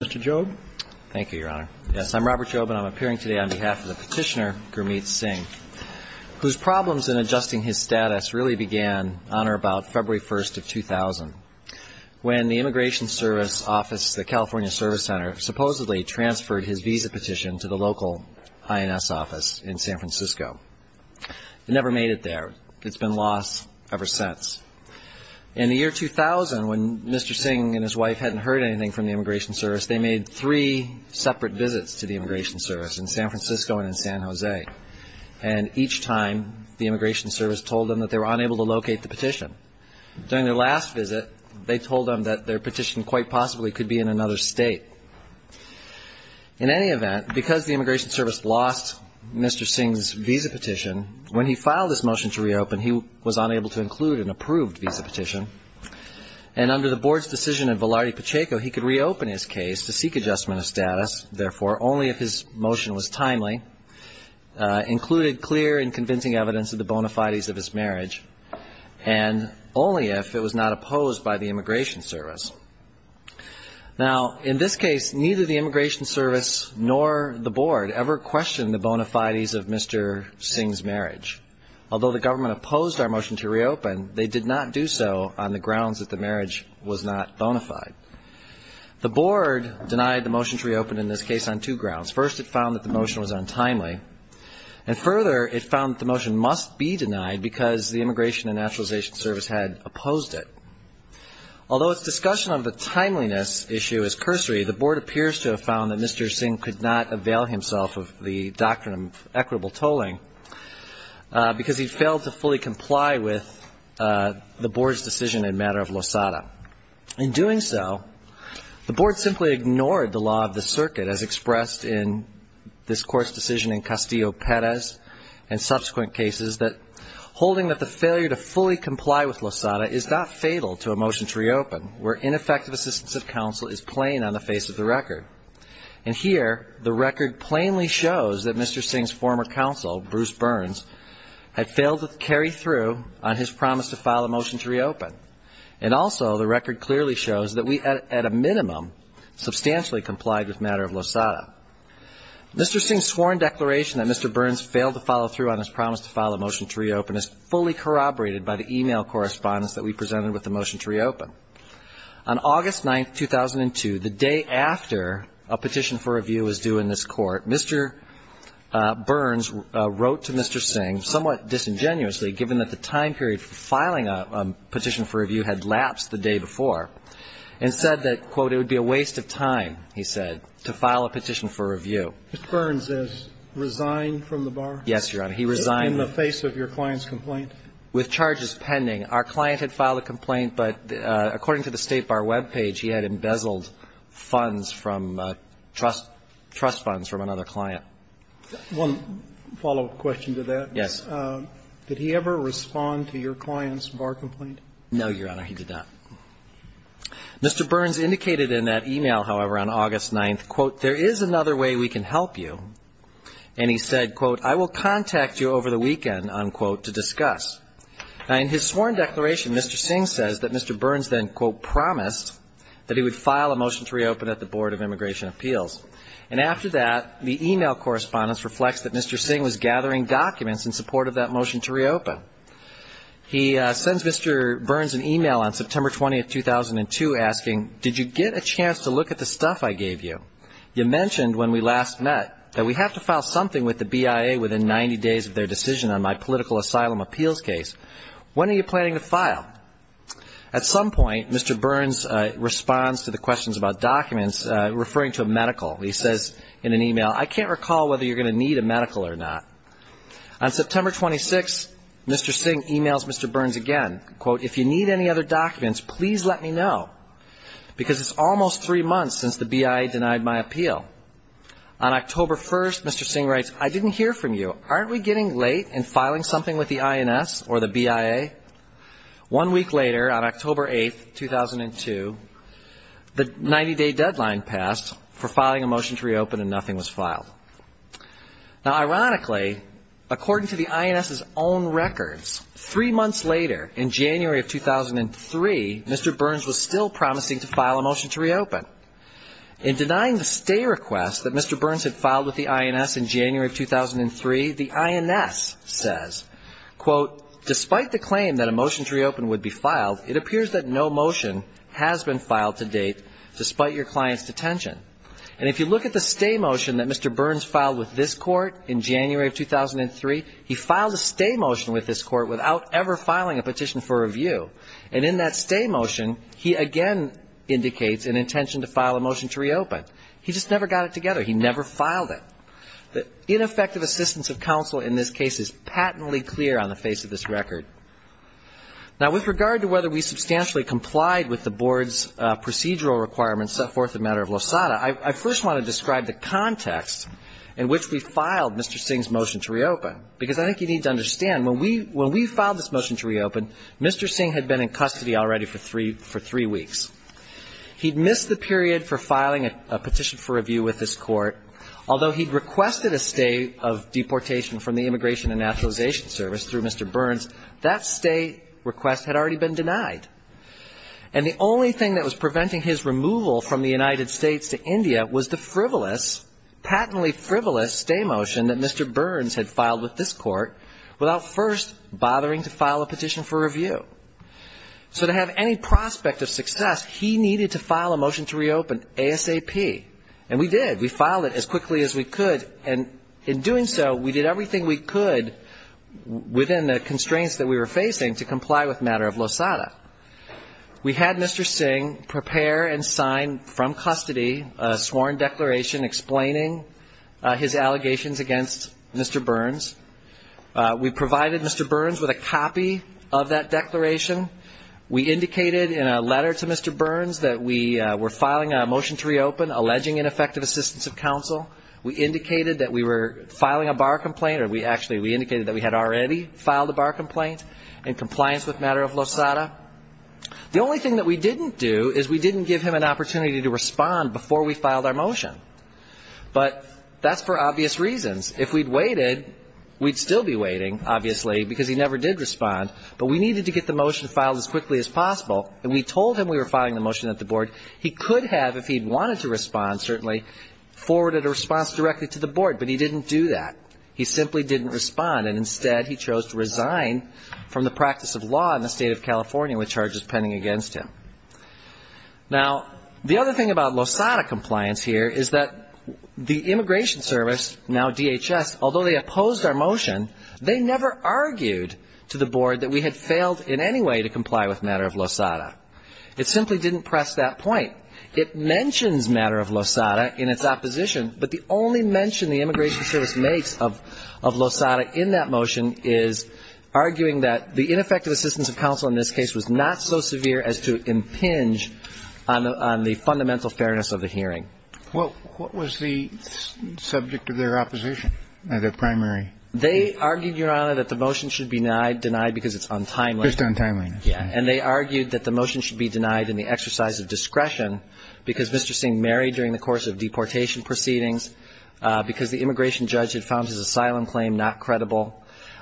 Mr. Job. Thank you, Your Honor. Yes, I'm Robert Job, and I'm appearing today on behalf of the petitioner Gurmeet Singh, whose problems in adjusting his status really began on or about February 1st of 2000, when the Immigration Service Office, the California Service Center, supposedly transferred his visa petition to the local INS office in San Francisco. It never made it there. It's been lost ever since. In the year 2000, when Mr. Singh and his wife hadn't heard anything from the Immigration Service, they made three separate visits to the Immigration Service in San Francisco and in San Jose. And each time, the Immigration Service told them that they were unable to locate the petition. During their last visit, they told them that their petition quite possibly could be in another state. In any event, because the Immigration Service lost Mr. Singh's visa petition, when he filed this motion to reopen, he was unable to include an approved visa petition. And under the board's decision of Velarde Pacheco, he could reopen his case to seek adjustment of status, therefore, only if his motion was timely, included clear and convincing evidence of the bona fides of his marriage, and only if it was not opposed by the Immigration Service. Now, in this case, neither the Immigration Service nor the board ever questioned the bona fides of Mr. Singh's marriage. Although the government opposed our motion to reopen, they did not do so on the grounds that the marriage was not bona fide. The board denied the motion to reopen, in this case, on two grounds. First, it found that the motion was untimely. And further, it found that the motion must be denied because the Immigration and Naturalization Service had opposed it. Although its discussion of the timeliness issue is cursory, the board appears to have found that Mr. Singh could not avail himself of the doctrine of equitable tolling because he failed to fully comply with the board's decision in a matter of losada. In doing so, the board simply agreed that Mr. Singh's marriage was not bona fide. The board ignored the law of the circuit, as expressed in this Court's decision in Castillo-Perez and subsequent cases, that holding that the failure to fully comply with losada is not fatal to a motion to reopen, where ineffective assistance of counsel is plain on the face of the record. And here, the record plainly shows that Mr. Singh's former counsel, Bruce Burns, had failed to carry through on his promise to file a motion to reopen. And also, the record clearly shows that we, at a minimum, substantially complied with a matter of losada. Mr. Singh's sworn declaration that Mr. Burns failed to follow through on his promise to file a motion to reopen is fully corroborated by the e-mail correspondence that we presented with the motion to reopen. On August 9, 2002, the day after a petition for review was due in this Court, Mr. Burns wrote to Mr. Singh, somewhat disingenuously, given that the time period for filing a petition for review had lapsed the day before, and said that, quote, it would be a waste of time, he said, to file a petition for review. Mr. Burns has resigned from the bar? Yes, Your Honor. He resigned. In the face of your client's complaint? With charges pending. Our client had filed a complaint, but according to the State Bar web page, he had embezzled funds from trust funds from another client. One follow-up question to that. Yes. Did he ever respond to your client's bar complaint? No, Your Honor. He did not. Mr. Burns indicated in that e-mail, however, on August 9, quote, there is another way we can help you, and he said, quote, I will contact you over the weekend, unquote, to discuss. Now, in his sworn declaration, Mr. Singh says that Mr. Burns then, quote, promised that he would file a motion to reopen at the Board of Immigration Appeals. And after that, the e-mail correspondence reflects that Mr. Singh was gathering documents in support of that motion to reopen. He sends Mr. Burns an e-mail on September 20, 2002, asking, did you get a chance to look at the stuff I gave you? You mentioned when we last met that we have to file something with the BIA within 90 days of their decision on my political asylum appeals case. When are you planning to file? At some point, Mr. Burns responds to the questions about documents, referring to a medical. He says in an e-mail, I can't recall whether you're going to need a medical or not. On September 26, Mr. Singh e-mails Mr. Burns again. Quote, if you need any other documents, please let me know, because it's almost three months since the BIA denied my appeal. On October 1, Mr. Singh writes, I didn't hear from you. Aren't we getting late in filing something with the INS or the BIA? One week later, on October 8, 2002, the 90-day deadline passed for filing a motion to reopen, and nothing was filed. Now, ironically, according to the INS's own records, three months later, in January of 2003, Mr. Burns was still promising to file a motion to reopen. In denying the stay request that Mr. Burns had filed with the INS in January of 2003, the INS says, quote, despite the claim that a motion to reopen would be filed, it appears that no motion has been filed to date, despite your client's detention. And if you look at the stay motion that Mr. Burns filed with this court in January of 2003, he filed a stay motion with this court without ever filing a petition for review. And in that stay motion, he again indicates an intention to file a motion to reopen. He just never got it together. He never filed it. The ineffective assistance of counsel in this case is patently clear on the face of this record. Now, with regard to whether we substantially complied with the board's procedural requirements set forth in the matter of Losada, I first want to describe the context in which we filed Mr. Singh's motion to reopen. Because I think you need to understand, when we filed this motion to reopen, Mr. Singh had been in custody already for three weeks. He had missed the period for filing a petition for review with this court, although he had requested a stay of deportation from the Immigration and Nationalization Service through Mr. Burns, that stay request had already been denied. And the only thing that was preventing his removal from the United States to India was the frivolous, patently frivolous stay motion that Mr. Burns had filed with this court without first bothering to file a petition for review. So to have any prospect of success, he needed to file a motion to reopen ASAP. And we did. We filed it as quickly as we could. And in doing so, we did everything we could within the constraints that we were facing to comply with the matter of Losada. We had Mr. Singh prepare and sign from custody a sworn declaration explaining his allegations against Mr. Burns. We provided Mr. Burns with a copy of that declaration. We indicated in a letter to Mr. Burns that we were filing a motion to reopen, alleging ineffective assistance of counsel. We indicated that we were filing a bar complaint, or we actually indicated that we had already filed a bar complaint in compliance with the matter of Losada. The only thing that we didn't do is we didn't give him an opportunity to respond before we filed our motion. But that's for obvious reasons. If we'd waited, we'd still be waiting, obviously, because he never did respond. But we needed to get the motion filed as quickly as possible. And we told him we were filing the motion at the board. He could have, if he'd wanted to respond, certainly, forwarded a response directly to the board. But he didn't do that. He simply didn't respond. And instead, he chose to resign from the practice of law in the state of California with charges pending against him. Now, the other thing about Losada compliance here is that the Immigration Service, now DHS, although they opposed our motion, they never argued to the board that we had failed in any way to comply with the matter of Losada. It simply didn't press that point. It mentions matter of Losada in its opposition, but the only mention the Immigration Service makes of Losada in that motion is arguing that the ineffective assistance of counsel in this case was not so severe as to impinge on the fundamental fairness of the hearing. Well, what was the subject of their opposition, their primary? They argued, Your Honor, that the motion should be denied because it's untimely. And they argued that the motion should be denied in the exercise of discretion because Mr. Singh married during the course of deportation proceedings, because the immigration judge had found his asylum claim not credible.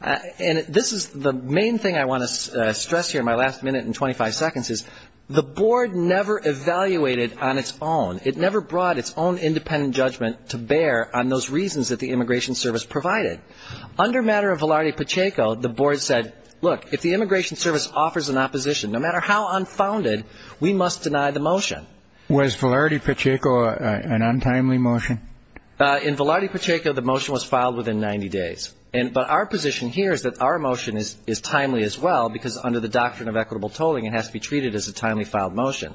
And this is the main thing I want to stress here in my last minute and 25 seconds is the board never evaluated on its own. It never brought its own independent judgment to bear on those reasons that the Immigration Service provided. Under matter of Velarde Pacheco, the board said, look, if the Immigration Service offers an opposition, no matter how unfounded, we must deny the motion. Was Velarde Pacheco an untimely motion? In Velarde Pacheco, the motion was filed within 90 days. But our position here is that our motion is timely as well, because under the doctrine of equitable tolling, it has to be treated as a timely filed motion.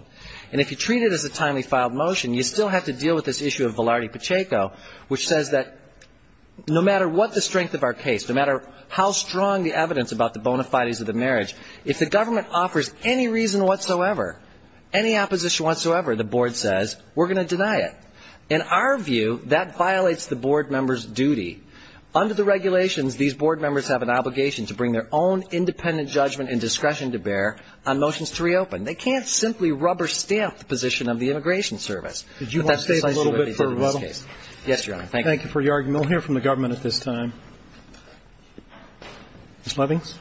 And if you treat it as a timely filed motion, you still have to deal with this issue of Velarde Pacheco, which says that no matter what the motion is, no matter what the strength of our case, no matter how strong the evidence about the bona fides of the marriage, if the government offers any reason whatsoever, any opposition whatsoever, the board says, we're going to deny it. In our view, that violates the board members' duty. Under the regulations, these board members have an obligation to bring their own independent judgment and discretion to bear on motions to reopen. They can't simply rubber stamp the position of the Immigration Service. But that's precisely what they did in this case. Yes, Your Honor. Thank you. Thank you for your argument. We'll hear from the government at this time. Ms. Lovings.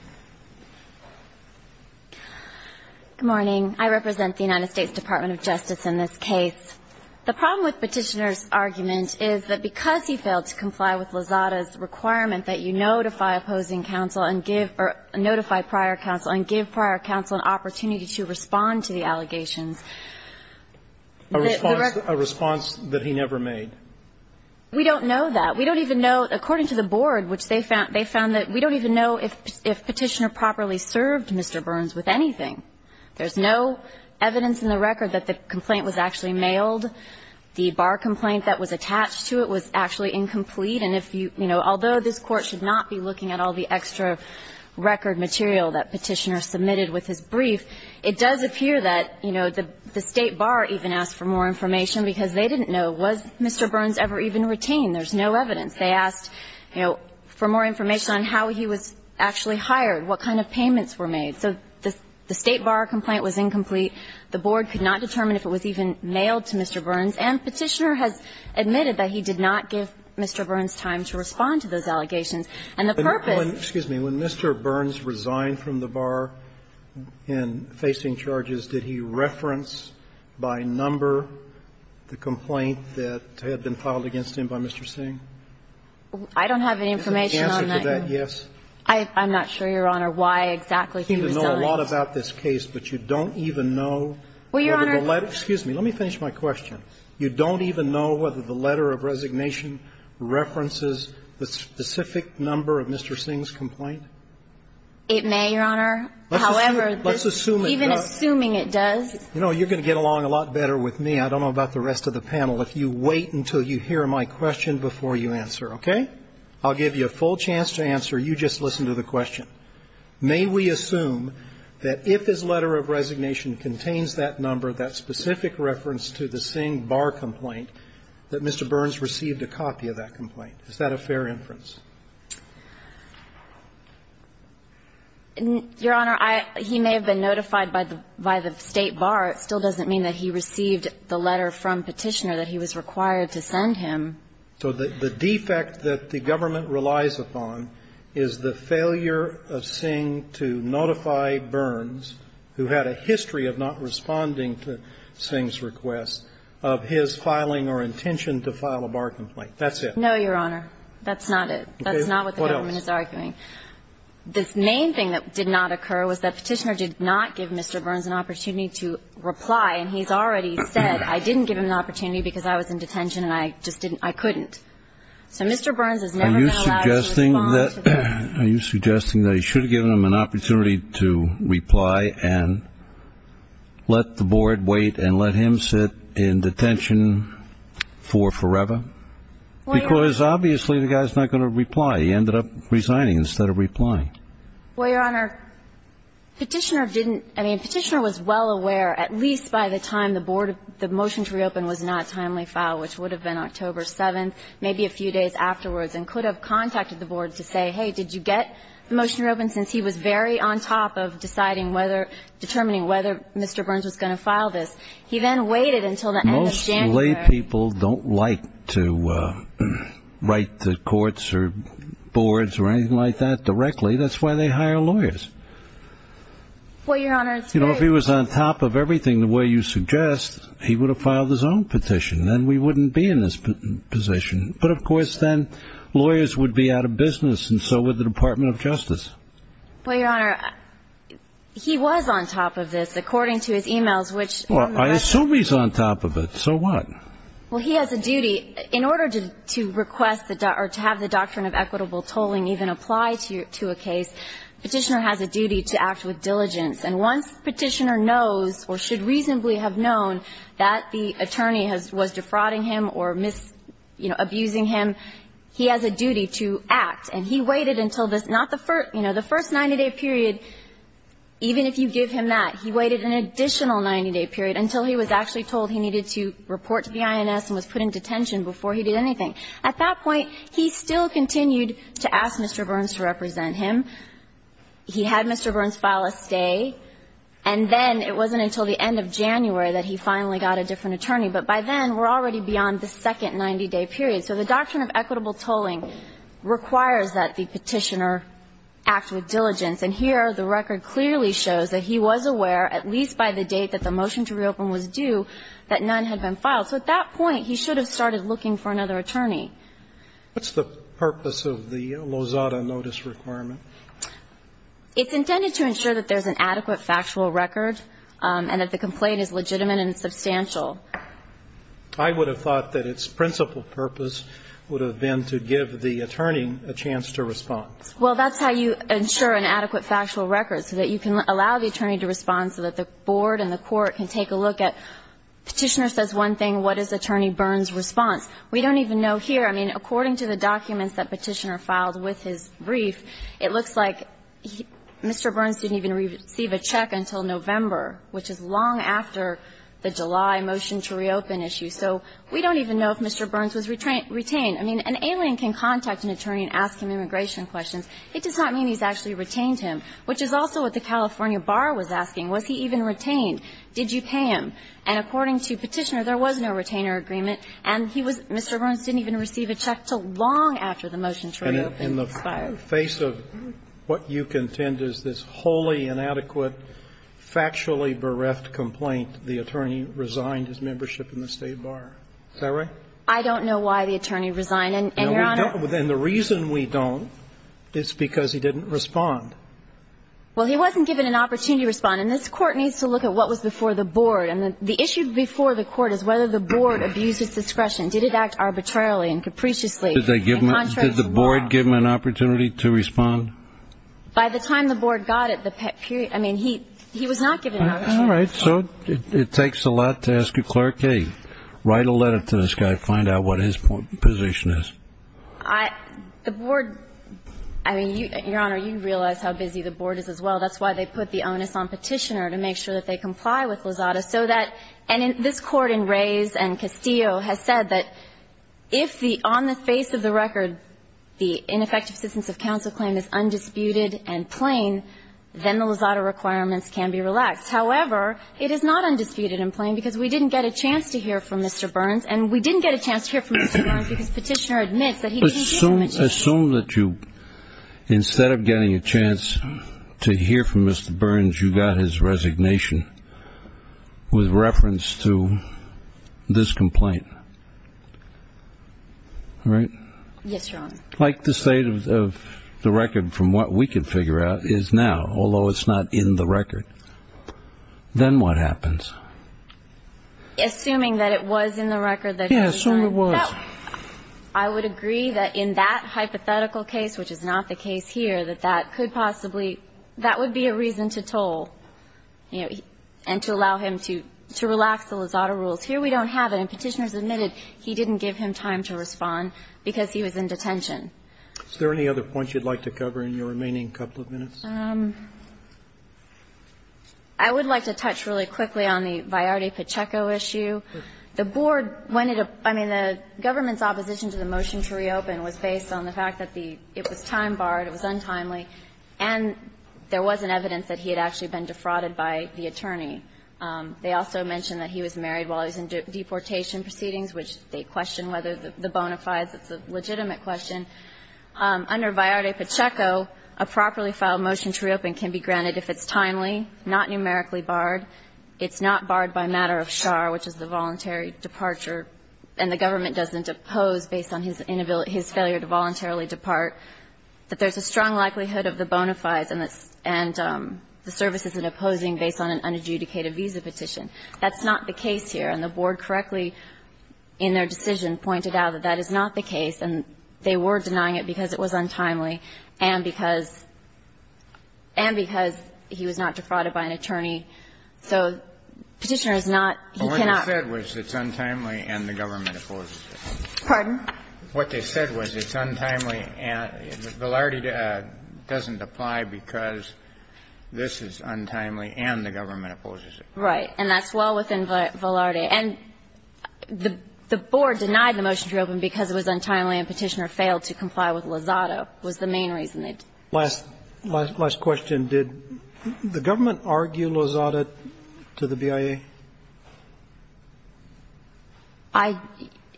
Good morning. I represent the United States Department of Justice in this case. The problem with Petitioner's argument is that because he failed to comply with Lozada's requirement that you notify opposing counsel and give or notify prior counsel and give prior counsel an opportunity to respond to the allegations. A response that he never made. We don't know that. We don't even know, according to the board, which they found, they found that we don't even know if Petitioner properly served Mr. Burns with anything. There's no evidence in the record that the complaint was actually mailed. The bar complaint that was attached to it was actually incomplete. And if you, you know, although this Court should not be looking at all the extra record material that Petitioner submitted with his brief, it does appear that, you know, the State Bar even asked for more information because they didn't know, was Mr. Burns ever even retained? There's no evidence. They asked, you know, for more information on how he was actually hired, what kind of payments were made. So the State Bar complaint was incomplete. The board could not determine if it was even mailed to Mr. Burns. And Petitioner has admitted that he did not give Mr. Burns time to respond to those by number, the complaint that had been filed against him by Mr. Singh? I don't have any information on that, Your Honor. Is the answer to that yes? I'm not sure, Your Honor, why exactly he resigned. You know a lot about this case, but you don't even know whether the letter of resignation references the specific number of Mr. Singh's complaint? However, even assuming it does. Let's assume it does. You know, you're going to get along a lot better with me. I don't know about the rest of the panel. If you wait until you hear my question before you answer, okay? I'll give you a full chance to answer. You just listen to the question. May we assume that if his letter of resignation contains that number, that specific reference to the Singh Bar complaint, that Mr. Burns received a copy of that complaint? Is that a fair inference? Your Honor, he may have been notified by the State Bar. It still doesn't mean that he received the letter from Petitioner that he was required to send him. So the defect that the government relies upon is the failure of Singh to notify Burns, who had a history of not responding to Singh's request, of his filing or intention to file a bar complaint. That's it. No, Your Honor. That's not it. That's not what the government is arguing. What else? The main thing that did not occur was that Petitioner did not give Mr. Burns an opportunity to reply. And he's already said, I didn't give him an opportunity because I was in detention and I just didn't, I couldn't. So Mr. Burns is never going to allow you to respond to that. Are you suggesting that he should have given him an opportunity to reply and let the board wait and let him sit in detention for forever? Because obviously the guy is not going to reply. He ended up resigning instead of replying. Well, Your Honor, Petitioner didn't, I mean, Petitioner was well aware, at least by the time the board, the motion to reopen was not timely filed, which would have been October 7th, maybe a few days afterwards, and could have contacted the board to say, hey, did you get the motion to reopen, since he was very on top of deciding whether, determining whether Mr. Burns was going to file this. He then waited until the end of January. Lay people don't like to write to courts or boards or anything like that directly. That's why they hire lawyers. Well, Your Honor, it's very... You know, if he was on top of everything the way you suggest, he would have filed his own petition. Then we wouldn't be in this position. But, of course, then lawyers would be out of business, and so would the Department of Justice. Well, Your Honor, he was on top of this, according to his emails, which... Well, he has a duty. In order to request or to have the doctrine of equitable tolling even apply to a case, Petitioner has a duty to act with diligence. And once Petitioner knows or should reasonably have known that the attorney was defrauding him or, you know, abusing him, he has a duty to act. And he waited until the first 90-day period. Even if you give him that, he waited an additional 90-day period until he was actually told he needed to report to the INS and was put in detention before he did anything. At that point, he still continued to ask Mr. Burns to represent him. He had Mr. Burns file a stay. And then it wasn't until the end of January that he finally got a different attorney. But by then, we're already beyond the second 90-day period. So the doctrine of equitable tolling requires that the petitioner act with diligence. And here the record clearly shows that he was aware, at least by the date that the case was filed, that none had been filed. So at that point, he should have started looking for another attorney. What's the purpose of the Lozada notice requirement? It's intended to ensure that there's an adequate factual record and that the complaint is legitimate and substantial. I would have thought that its principal purpose would have been to give the attorney a chance to respond. Well, that's how you ensure an adequate factual record, so that you can allow the Petitioner says one thing. What is Attorney Burns' response? We don't even know here. I mean, according to the documents that Petitioner filed with his brief, it looks like Mr. Burns didn't even receive a check until November, which is long after the July motion to reopen issue. So we don't even know if Mr. Burns was retained. I mean, an alien can contact an attorney and ask him immigration questions. It does not mean he's actually retained him, which is also what the California Bar was asking. Was he even retained? Did you pay him? And according to Petitioner, there was no retainer agreement. And he was Mr. Burns didn't even receive a check until long after the motion to reopen expired. And in the face of what you contend is this wholly inadequate, factually bereft complaint, the attorney resigned his membership in the State Bar. Is that right? I don't know why the attorney resigned. And, Your Honor. And the reason we don't is because he didn't respond. Well, he wasn't given an opportunity to respond. And this court needs to look at what was before the board. And the issue before the court is whether the board abused his discretion. Did it act arbitrarily and capriciously? Did the board give him an opportunity to respond? By the time the board got it, I mean, he was not given an opportunity. All right. So it takes a lot to ask a clerk, hey, write a letter to this guy, find out what his position is. The board, I mean, Your Honor, you realize how busy the board is as well. That's why they put the onus on Petitioner to make sure that they comply with Lozada so that, and this Court in Rays and Castillo has said that if the, on the face of the record, the ineffective assistance of counsel claim is undisputed and plain, then the Lozada requirements can be relaxed. However, it is not undisputed and plain because we didn't get a chance to hear from Mr. Burns. And we didn't get a chance to hear from Mr. Burns because Petitioner admits that he didn't hear from Mr. Burns. Assume that you, instead of getting a chance to hear from Mr. Burns, you got his resignation with reference to this complaint. All right? Yes, Your Honor. Like the state of the record from what we can figure out is now, although it's not in the record. Then what happens? Assuming that it was in the record that he signed. Yeah, assume it was. Well, I would agree that in that hypothetical case, which is not the case here, that that could possibly, that would be a reason to toll, you know, and to allow him to relax the Lozada rules. Here we don't have it. And Petitioner has admitted he didn't give him time to respond because he was in detention. Is there any other points you'd like to cover in your remaining couple of minutes? I would like to touch really quickly on the Viardi-Pacheco issue. The Board, when it, I mean, the government's opposition to the motion to reopen was based on the fact that the, it was time barred, it was untimely, and there wasn't evidence that he had actually been defrauded by the attorney. They also mentioned that he was married while he was in deportation proceedings, which they question whether the bona fides. It's a legitimate question. Under Viardi-Pacheco, a properly filed motion to reopen can be granted if it's timely, not numerically barred. It's not barred by matter of char, which is the voluntary departure, and the government doesn't oppose based on his inability, his failure to voluntarily depart. But there's a strong likelihood of the bona fides and the services in opposing based on an unadjudicated visa petition. That's not the case here. And the Board correctly in their decision pointed out that that is not the case, and they were denying it because it was untimely and because he was not defrauded by an attorney. So Petitioner is not, he cannot. Kennedy. Well, what they said was it's untimely and the government opposes it. Pardon? What they said was it's untimely and Viardi doesn't apply because this is untimely and the government opposes it. Right. And that's well within Viardi. And the Board denied the motion to reopen because it was untimely and Petitioner failed to comply with Lozado was the main reason. Last question. Did the government argue Lozado to the BIA?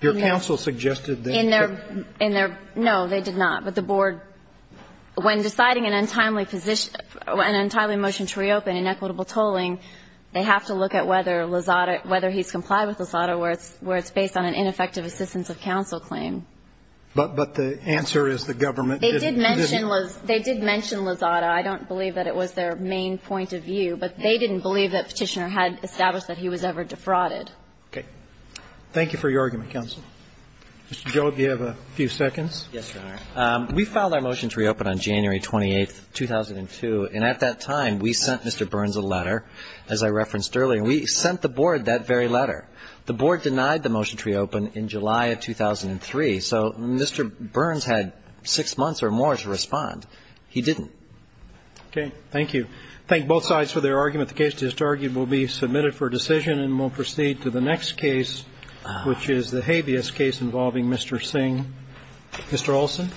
Your counsel suggested that. No, they did not. But the Board, when deciding an untimely motion to reopen in equitable tolling, they have to look at whether Lozado, whether he's complied with Lozado where it's based on an ineffective assistance of counsel claim. But the answer is the government didn't. They did mention Lozado. I don't believe that it was their main point of view. But they didn't believe that Petitioner had established that he was ever defrauded. Okay. Thank you for your argument, counsel. Mr. Jobe, do you have a few seconds? Yes, Your Honor. We filed our motion to reopen on January 28th, 2002, and at that time we sent Mr. Burns a letter, as I referenced earlier. And we sent the Board that very letter. The Board denied the motion to reopen in July of 2003. So Mr. Burns had six months or more to respond. He didn't. Okay. Thank you. Thank both sides for their argument. The case to be argued will be submitted for decision and will proceed to the next case, which is the habeas case involving Mr. Singh. Mr. Olson.